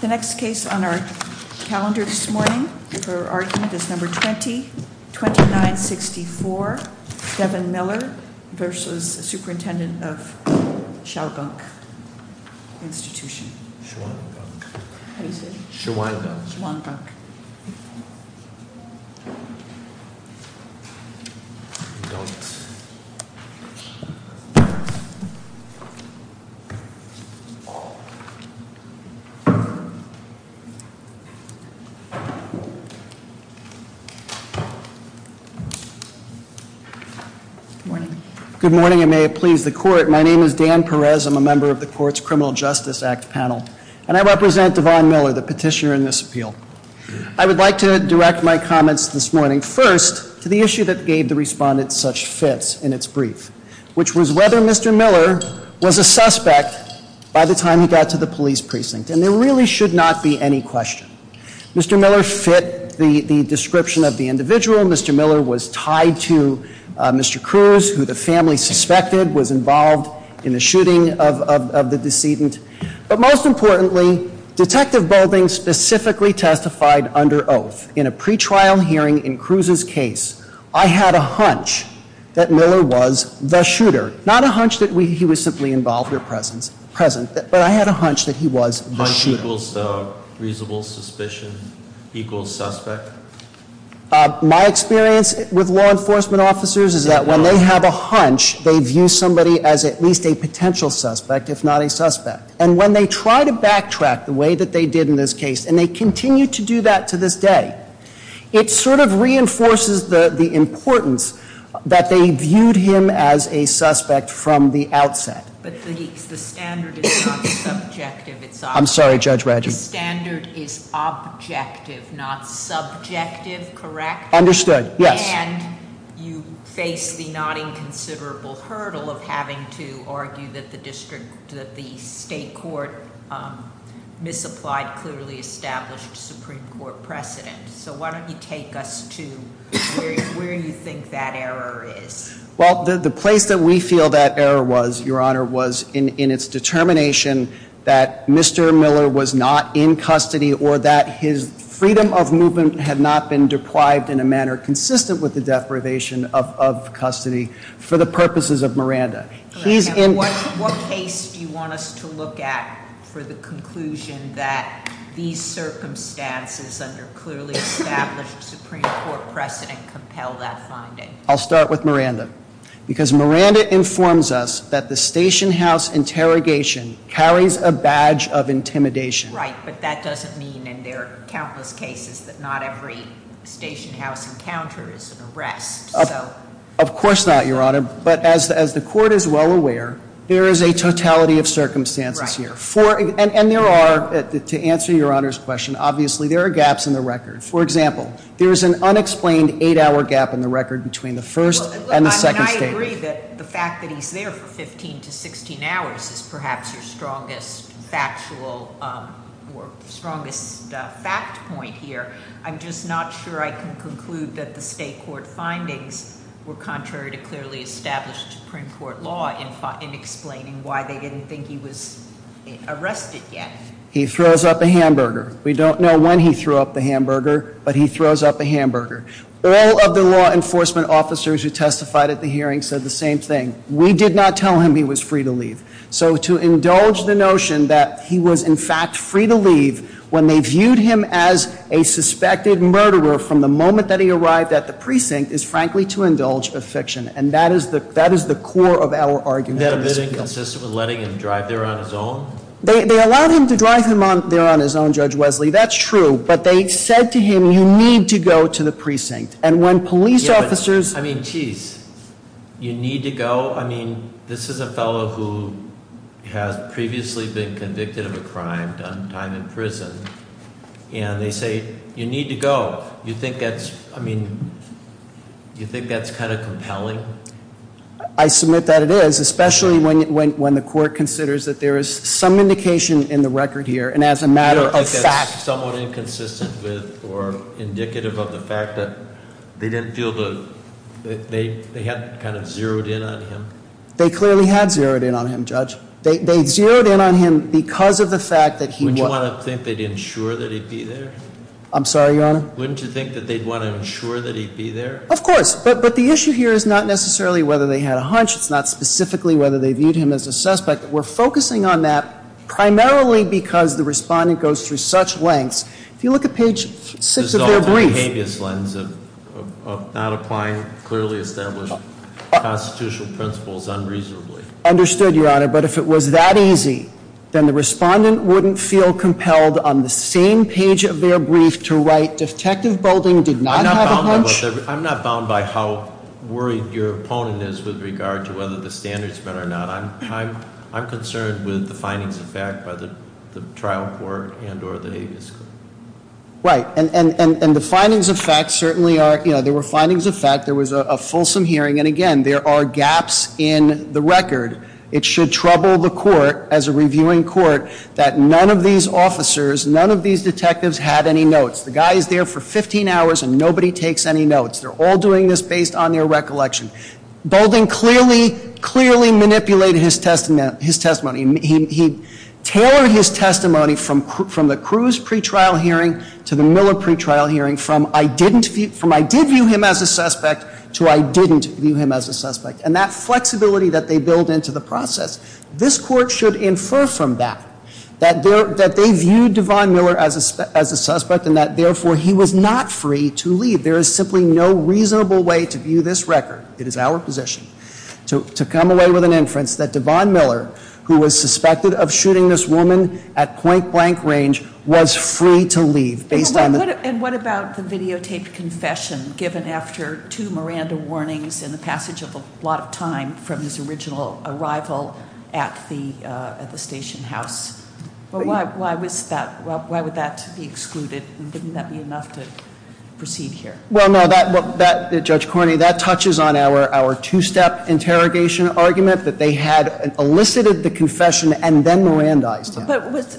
The next case on our calendar this morning for argument is number 20-2964, Devin Miller v. Superintendent of Shawangunk Institution. Shawangunk, how do you say it? Shawangunk. Shawangunk. Good morning. Good morning and may it please the court. My name is Dan Perez. I'm a member of the court's Criminal Justice Act panel and I represent Devin Miller, the petitioner in this appeal. I would like to direct my comments this morning, first, to the issue that gave the respondent such fits in its brief, which was whether Mr. Miller was a suspect by the time he got to the police precinct, and there really should not be any question. Mr. Miller fit the description of the individual. Mr. Miller was tied to Mr. Cruz, who the family suspected was involved in the shooting of the decedent. But most importantly, Detective Boulding specifically testified under oath in a pre-trial hearing in Cruz's case. I had a hunch that Miller was the shooter. Not a hunch that he was simply involved or present, but I had a hunch that he was the shooter. Hunch equals reasonable suspicion equals suspect? My experience with law enforcement officers is that when they have a hunch, they view somebody as at least a potential suspect, if not a suspect. And when they try to backtrack the way that they did in this case, and they continue to do that to this day, it sort of reinforces the importance that they viewed him as a suspect from the outset. But the standard is not subjective. I'm sorry, Judge Raggi. The standard is objective, not subjective, correct? Understood, yes. And you face the not inconsiderable hurdle of having to argue that the district, that the state court misapplied clearly established Supreme Court precedent. So why don't you take us to where you think that error is? Well, the place that we feel that error was, Your Honor, was in its determination that Mr. Miller was not in custody, or that his freedom of movement had not been deprived in a manner consistent with the deprivation of custody for the purposes of Miranda. He's in- What case do you want us to look at for the conclusion that these circumstances under clearly established Supreme Court precedent compel that finding? I'll start with Miranda. Because Miranda informs us that the station house interrogation carries a badge of intimidation. Right, but that doesn't mean in their countless cases that not every station house encounter is an arrest. Of course not, Your Honor. But as the court is well aware, there is a totality of circumstances here. And there are, to answer Your Honor's question, obviously there are gaps in the record. For example, there is an unexplained eight hour gap in the record between the first and the second statement. I agree that the fact that he's there for 15 to 16 hours is perhaps your strongest factual or strongest fact point here. I'm just not sure I can conclude that the state court findings were contrary to clearly established Supreme Court law in explaining why they didn't think he was arrested yet. He throws up a hamburger. We don't know when he threw up the hamburger, but he throws up a hamburger. All of the law enforcement officers who testified at the hearing said the same thing. We did not tell him he was free to leave. So to indulge the notion that he was in fact free to leave when they viewed him as a suspected murderer from the moment that he arrived at the precinct is frankly to indulge a fiction. And that is the core of our argument. Is that a bidding consistent with letting him drive there on his own? They allowed him to drive there on his own, Judge Wesley. That's true. But they said to him, you need to go to the precinct. And when police officers- I mean, geez. You need to go? I mean, this is a fellow who has previously been convicted of a crime, done time in prison. And they say, you need to go. You think that's kind of compelling? I submit that it is, especially when the court considers that there is some indication in the record here. And as a matter of fact- Do you think that's somewhat inconsistent with or indicative of the fact that they didn't feel the- they had kind of zeroed in on him? They clearly had zeroed in on him, Judge. They zeroed in on him because of the fact that he- Wouldn't you want to think they'd ensure that he'd be there? I'm sorry, Your Honor? Wouldn't you think that they'd want to ensure that he'd be there? Of course. But the issue here is not necessarily whether they had a hunch. It's not specifically whether they viewed him as a suspect. We're focusing on that primarily because the respondent goes through such lengths. If you look at page 6 of their brief- It's a result of a behaviorist lens of not applying clearly established constitutional principles unreasonably. Understood, Your Honor. But if it was that easy, then the respondent wouldn't feel compelled on the same page of their brief to write, Detective Boulding did not have a hunch- I'm not bound by how worried your opponent is with regard to whether the standards met or not. I'm concerned with the findings of fact by the trial court and or the habeas court. Right. And the findings of fact certainly are- There were findings of fact. There was a fulsome hearing. And again, there are gaps in the record. It should trouble the court as a reviewing court that none of these officers, none of these detectives had any notes. The guy is there for 15 hours and nobody takes any notes. They're all doing this based on their recollection. Boulding clearly, clearly manipulated his testimony. He tailored his testimony from the Cruz pretrial hearing to the Miller pretrial hearing from I did view him as a suspect to I didn't view him as a suspect. And that flexibility that they build into the process, this court should infer from that, that they viewed Devon Miller as a suspect and that, therefore, he was not free to leave. There is simply no reasonable way to view this record. It is our position to come away with an inference that Devon Miller, who was suspected of shooting this woman at point-blank range, was free to leave based on- And what about the videotaped confession given after two Miranda warnings and the passage of a lot of time from his original arrival at the station house? Why would that be excluded? Wouldn't that be enough to proceed here? Well, no, Judge Cornyn, that touches on our two-step interrogation argument that they had elicited the confession and then Mirandized it.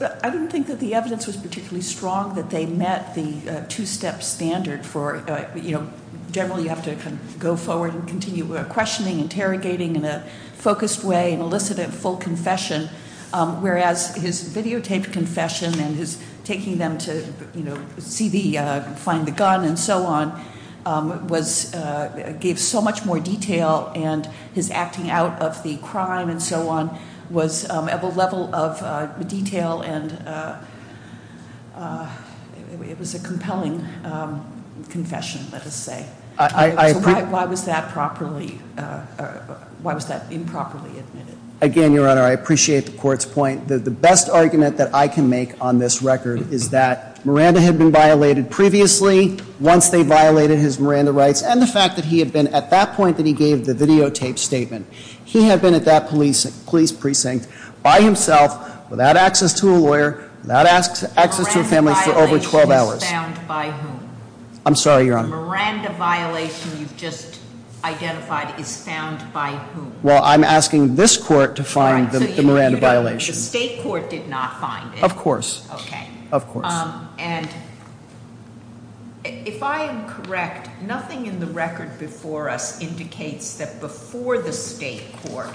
But I don't think that the evidence was particularly strong that they met the two-step standard for, you know, generally you have to go forward and continue questioning, interrogating in a focused way and elicit a full confession, whereas his videotaped confession and his taking them to, you know, see the-find the gun and so on was- gave so much more detail and his acting out of the crime and so on was at a level of detail and it was a compelling confession, let us say. Why was that properly-why was that improperly admitted? Again, Your Honor, I appreciate the court's point. The best argument that I can make on this record is that Miranda had been violated previously once they violated his Miranda rights and the fact that he had been at that point that he gave the videotaped statement. He had been at that police precinct by himself without access to a lawyer, without access to a family for over 12 hours. Miranda violation is found by whom? I'm sorry, Your Honor. The Miranda violation you've just identified is found by whom? Well, I'm asking this court to find the Miranda violation. The state court did not find it. Of course. Okay. Of course. And if I am correct, nothing in the record before us indicates that before the state court,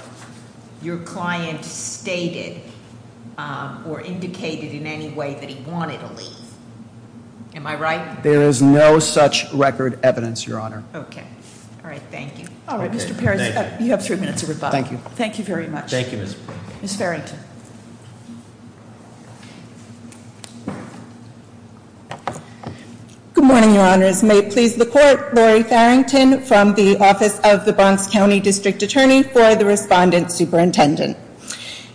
your client stated or indicated in any way that he wanted to leave. Am I right? There is no such record evidence, Your Honor. Okay. All right, thank you. All right, Mr. Perez, you have three minutes of rebuttal. Thank you. Thank you very much. Thank you, Ms. Perez. Ms. Farrington. Good morning, Your Honors. May it please the court, Laurie Farrington from the Office of the Bronx County District Attorney for the Respondent Superintendent.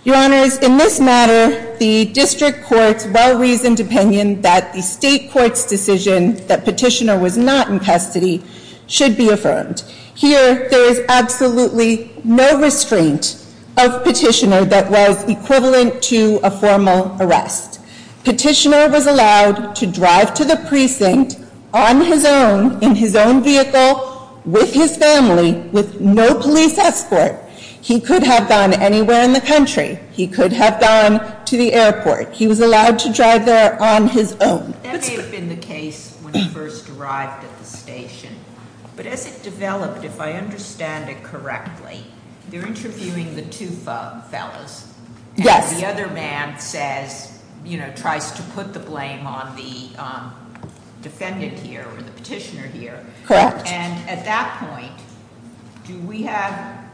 Your Honors, in this matter, the district court's well-reasoned opinion that the state court's decision that Petitioner was not in custody should be affirmed. Here, there is absolutely no restraint of Petitioner that was equivalent to a formal arrest. Petitioner was allowed to drive to the precinct on his own, in his own vehicle, with his family, with no police escort. He could have gone anywhere in the country. He could have gone to the airport. He was allowed to drive there on his own. That may have been the case when he first arrived at the station, but as it developed, if I understand it correctly, they're interviewing the two fellas. Yes. And the other man says, you know, tries to put the blame on the defendant here, or the petitioner here. Correct. And at that point, do we have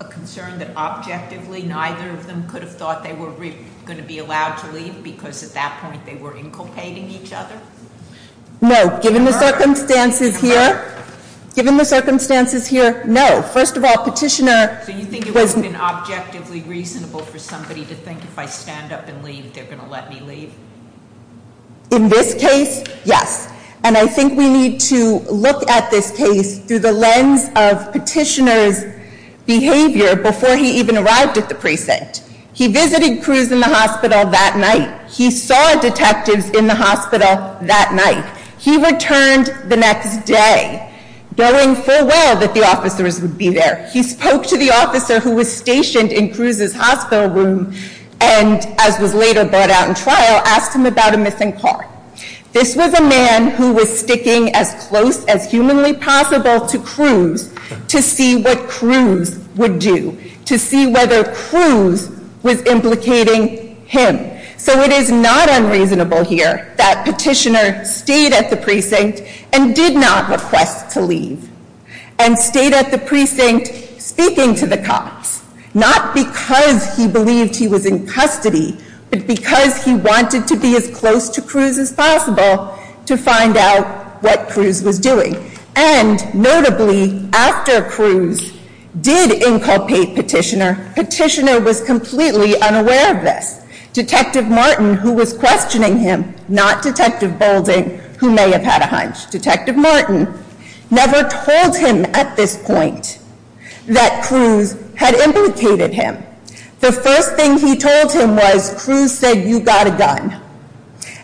a concern that objectively, neither of them could have thought they were going to be allowed to leave, because at that point they were inculpating each other? No, given the circumstances here, given the circumstances here, no. First of all, Petitioner- So you think it would have been objectively reasonable for somebody to think if I stand up and leave, they're going to let me leave? In this case, yes. And I think we need to look at this case through the lens of Petitioner's behavior before he even arrived at the precinct. He visited Cruz in the hospital that night. He saw detectives in the hospital that night. He returned the next day, knowing full well that the officers would be there. He spoke to the officer who was stationed in Cruz's hospital room and, as was later brought out in trial, asked him about a missing car. This was a man who was sticking as close as humanly possible to Cruz to see what Cruz would do, to see whether Cruz was implicating him. So it is not unreasonable here that Petitioner stayed at the precinct and did not request to leave, and stayed at the precinct speaking to the cops, not because he believed he was in custody, but because he wanted to be as close to Cruz as possible to find out what Cruz was doing. And, notably, after Cruz did inculpate Petitioner, Petitioner was completely unaware of this. Detective Martin, who was questioning him, not Detective Boulding, who may have had a hunch. Detective Martin never told him at this point that Cruz had implicated him. The first thing he told him was, Cruz said, you got a gun.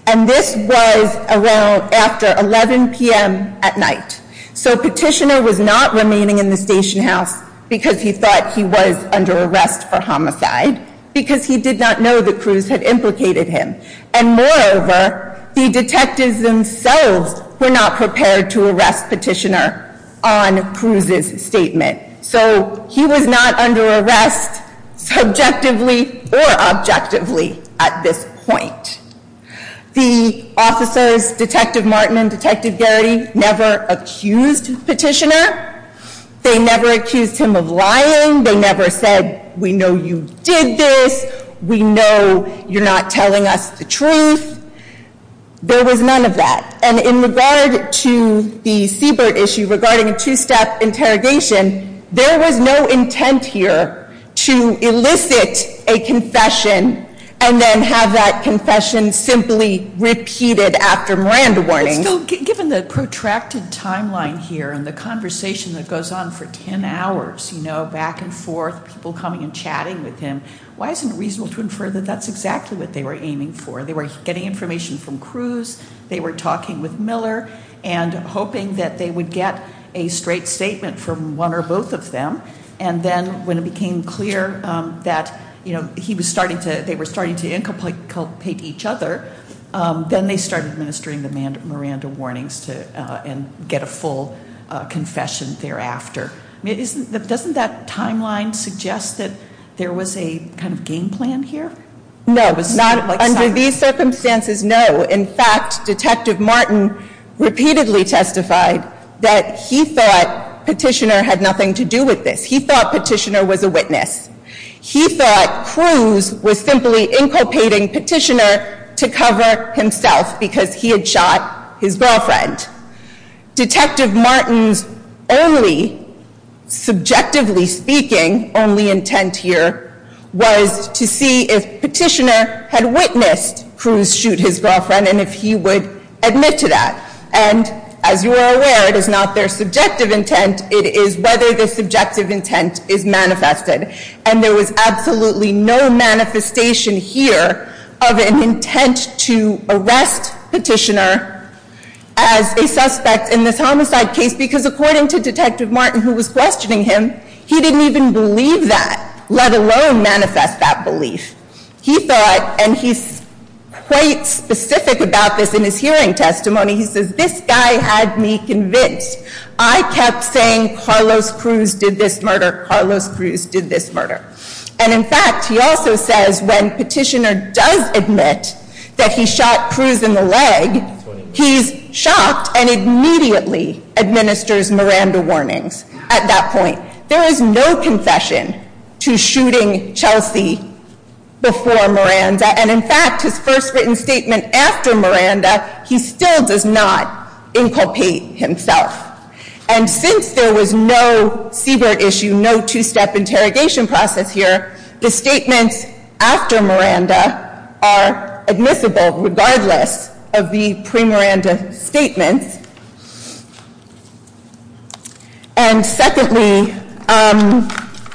And this was around after 11 p.m. at night. So Petitioner was not remaining in the station house because he thought he was under arrest for homicide, because he did not know that Cruz had implicated him. And, moreover, the detectives themselves were not prepared to arrest Petitioner on Cruz's statement. So he was not under arrest subjectively or objectively at this point. The officers, Detective Martin and Detective Garrity, never accused Petitioner. They never accused him of lying. They never said, we know you did this. We know you're not telling us the truth. There was none of that. And in regard to the Seabird issue, regarding a two-step interrogation, there was no intent here to elicit a confession and then have that confession simply repeated after Miranda warning. Still, given the protracted timeline here and the conversation that goes on for ten hours, you know, back and forth, people coming and chatting with him, why isn't it reasonable to infer that that's exactly what they were aiming for? They were getting information from Cruz. They were talking with Miller and hoping that they would get a straight statement from one or both of them. And then when it became clear that they were starting to inculpate each other, then they started administering the Miranda warnings and get a full confession thereafter. Doesn't that timeline suggest that there was a kind of game plan here? No, under these circumstances, no. In fact, Detective Martin repeatedly testified that he thought Petitioner had nothing to do with this. He thought Petitioner was a witness. He thought Cruz was simply inculpating Petitioner to cover himself because he had shot his girlfriend. Detective Martin's only, subjectively speaking, only intent here was to see if Petitioner had witnessed Cruz shoot his girlfriend and if he would admit to that. And as you are aware, it is not their subjective intent. It is whether the subjective intent is manifested. And there was absolutely no manifestation here of an intent to arrest Petitioner as a suspect in this homicide case because according to Detective Martin, who was questioning him, he didn't even believe that, let alone manifest that belief. He thought, and he's quite specific about this in his hearing testimony, he says, This guy had me convinced. I kept saying, Carlos Cruz did this murder. Carlos Cruz did this murder. And in fact, he also says when Petitioner does admit that he shot Cruz in the leg, he's shocked and immediately administers Miranda warnings at that point. There is no confession to shooting Chelsea before Miranda. And in fact, his first written statement after Miranda, he still does not inculpate himself. And since there was no Siebert issue, no two-step interrogation process here, the statements after Miranda are admissible regardless of the pre-Miranda statements. And secondly,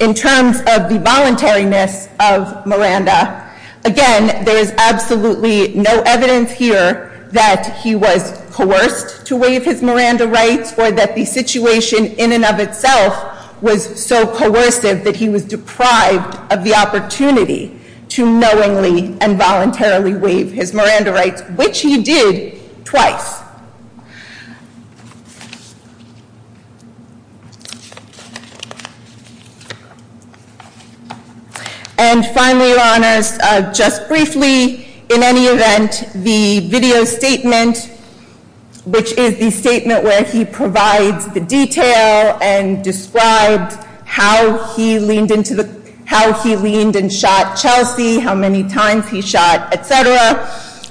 in terms of the voluntariness of Miranda, again, there is absolutely no evidence here that he was coerced to waive his Miranda rights or that the situation in and of itself was so coercive that he was deprived of the opportunity to knowingly and voluntarily waive his Miranda rights, which he did twice. And finally, Your Honors, just briefly, in any event, the video statement, which is the statement where he provides the detail and describes how he leaned and shot Chelsea, how many times he shot, et cetera,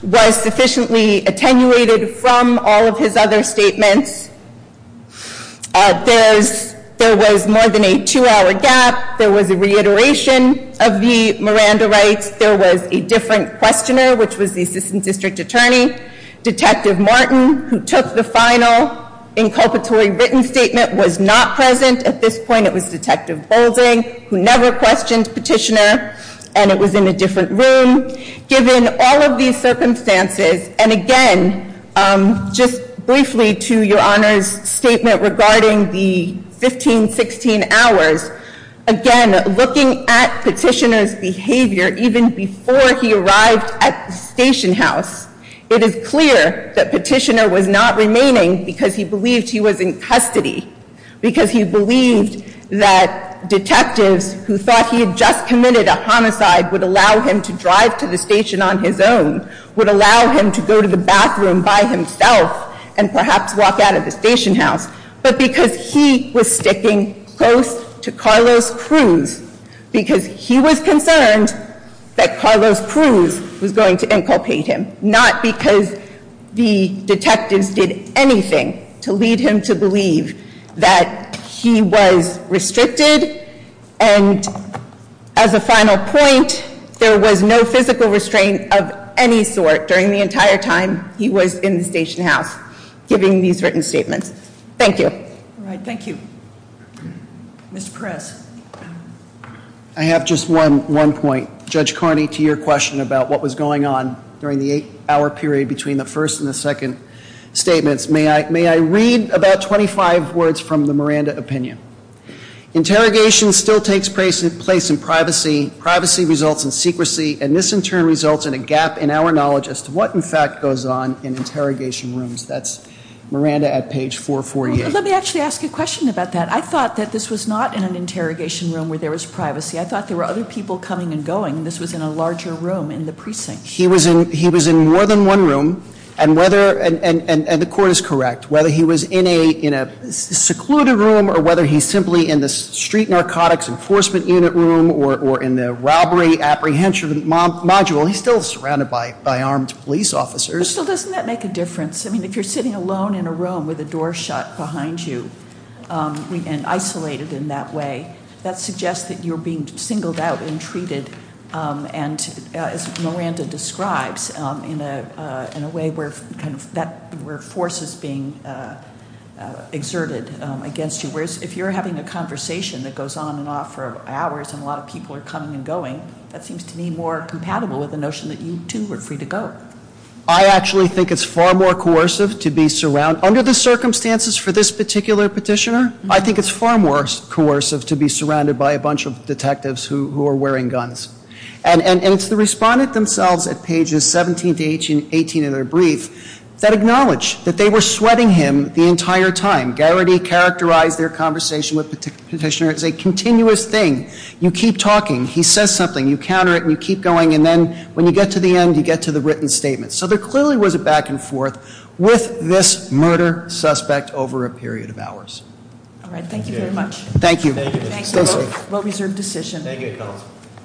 was sufficiently attenuated from all of his other statements. There was more than a two-hour gap. There was a reiteration of the Miranda rights. There was a different questioner, which was the Assistant District Attorney. Detective Martin, who took the final inculpatory written statement, was not present at this point. It was Detective Boulding, who never questioned Petitioner, and it was in a different room. Given all of these circumstances, and again, just briefly to Your Honors' statement regarding the 15, 16 hours, again, looking at Petitioner's behavior even before he arrived at the station house, it is clear that Petitioner was not remaining because he believed he was in custody, because he believed that detectives who thought he had just committed a homicide would allow him to drive to the station on his own, would allow him to go to the bathroom by himself and perhaps walk out of the station house, but because he was sticking close to Carlos Cruz, because he was concerned that Carlos Cruz was going to inculpate him, not because the detectives did anything to lead him to believe that he was restricted. And as a final point, there was no physical restraint of any sort during the entire time he was in the station house, giving these written statements. Thank you. All right. Thank you. Mr. Perez. I have just one point. Judge Carney, to your question about what was going on during the eight-hour period between the first and the second statements, may I read about 25 words from the Miranda opinion? Interrogation still takes place in privacy. Privacy results in secrecy, and this in turn results in a gap in our knowledge as to what in fact goes on in interrogation rooms. That's Miranda at page 448. Let me actually ask a question about that. I thought that this was not in an interrogation room where there was privacy. I thought there were other people coming and going. This was in a larger room in the precinct. He was in more than one room, and the court is correct. Whether he was in a secluded room or whether he's simply in the street narcotics enforcement unit room or in the robbery apprehension module, he's still surrounded by armed police officers. But still, doesn't that make a difference? I mean, if you're sitting alone in a room with a door shut behind you and isolated in that way, that suggests that you're being singled out and treated, as Miranda describes, in a way where force is being exerted against you. Whereas if you're having a conversation that goes on and off for hours and a lot of people are coming and going, that seems to me more compatible with the notion that you, too, are free to go. I actually think it's far more coercive to be surrounded. Under the circumstances for this particular petitioner, I think it's far more coercive to be surrounded by a bunch of detectives who are wearing guns. And it's the respondent themselves at pages 17 to 18 of their brief that acknowledge that they were sweating him the entire time. Garrity characterized their conversation with the petitioner as a continuous thing. You keep talking. He says something. You counter it, and you keep going. And then when you get to the end, you get to the written statement. So there clearly was a back and forth with this murder suspect over a period of hours. All right. Thank you very much. Thank you. Thank you. Well-reserved decision. Thank you, counsel.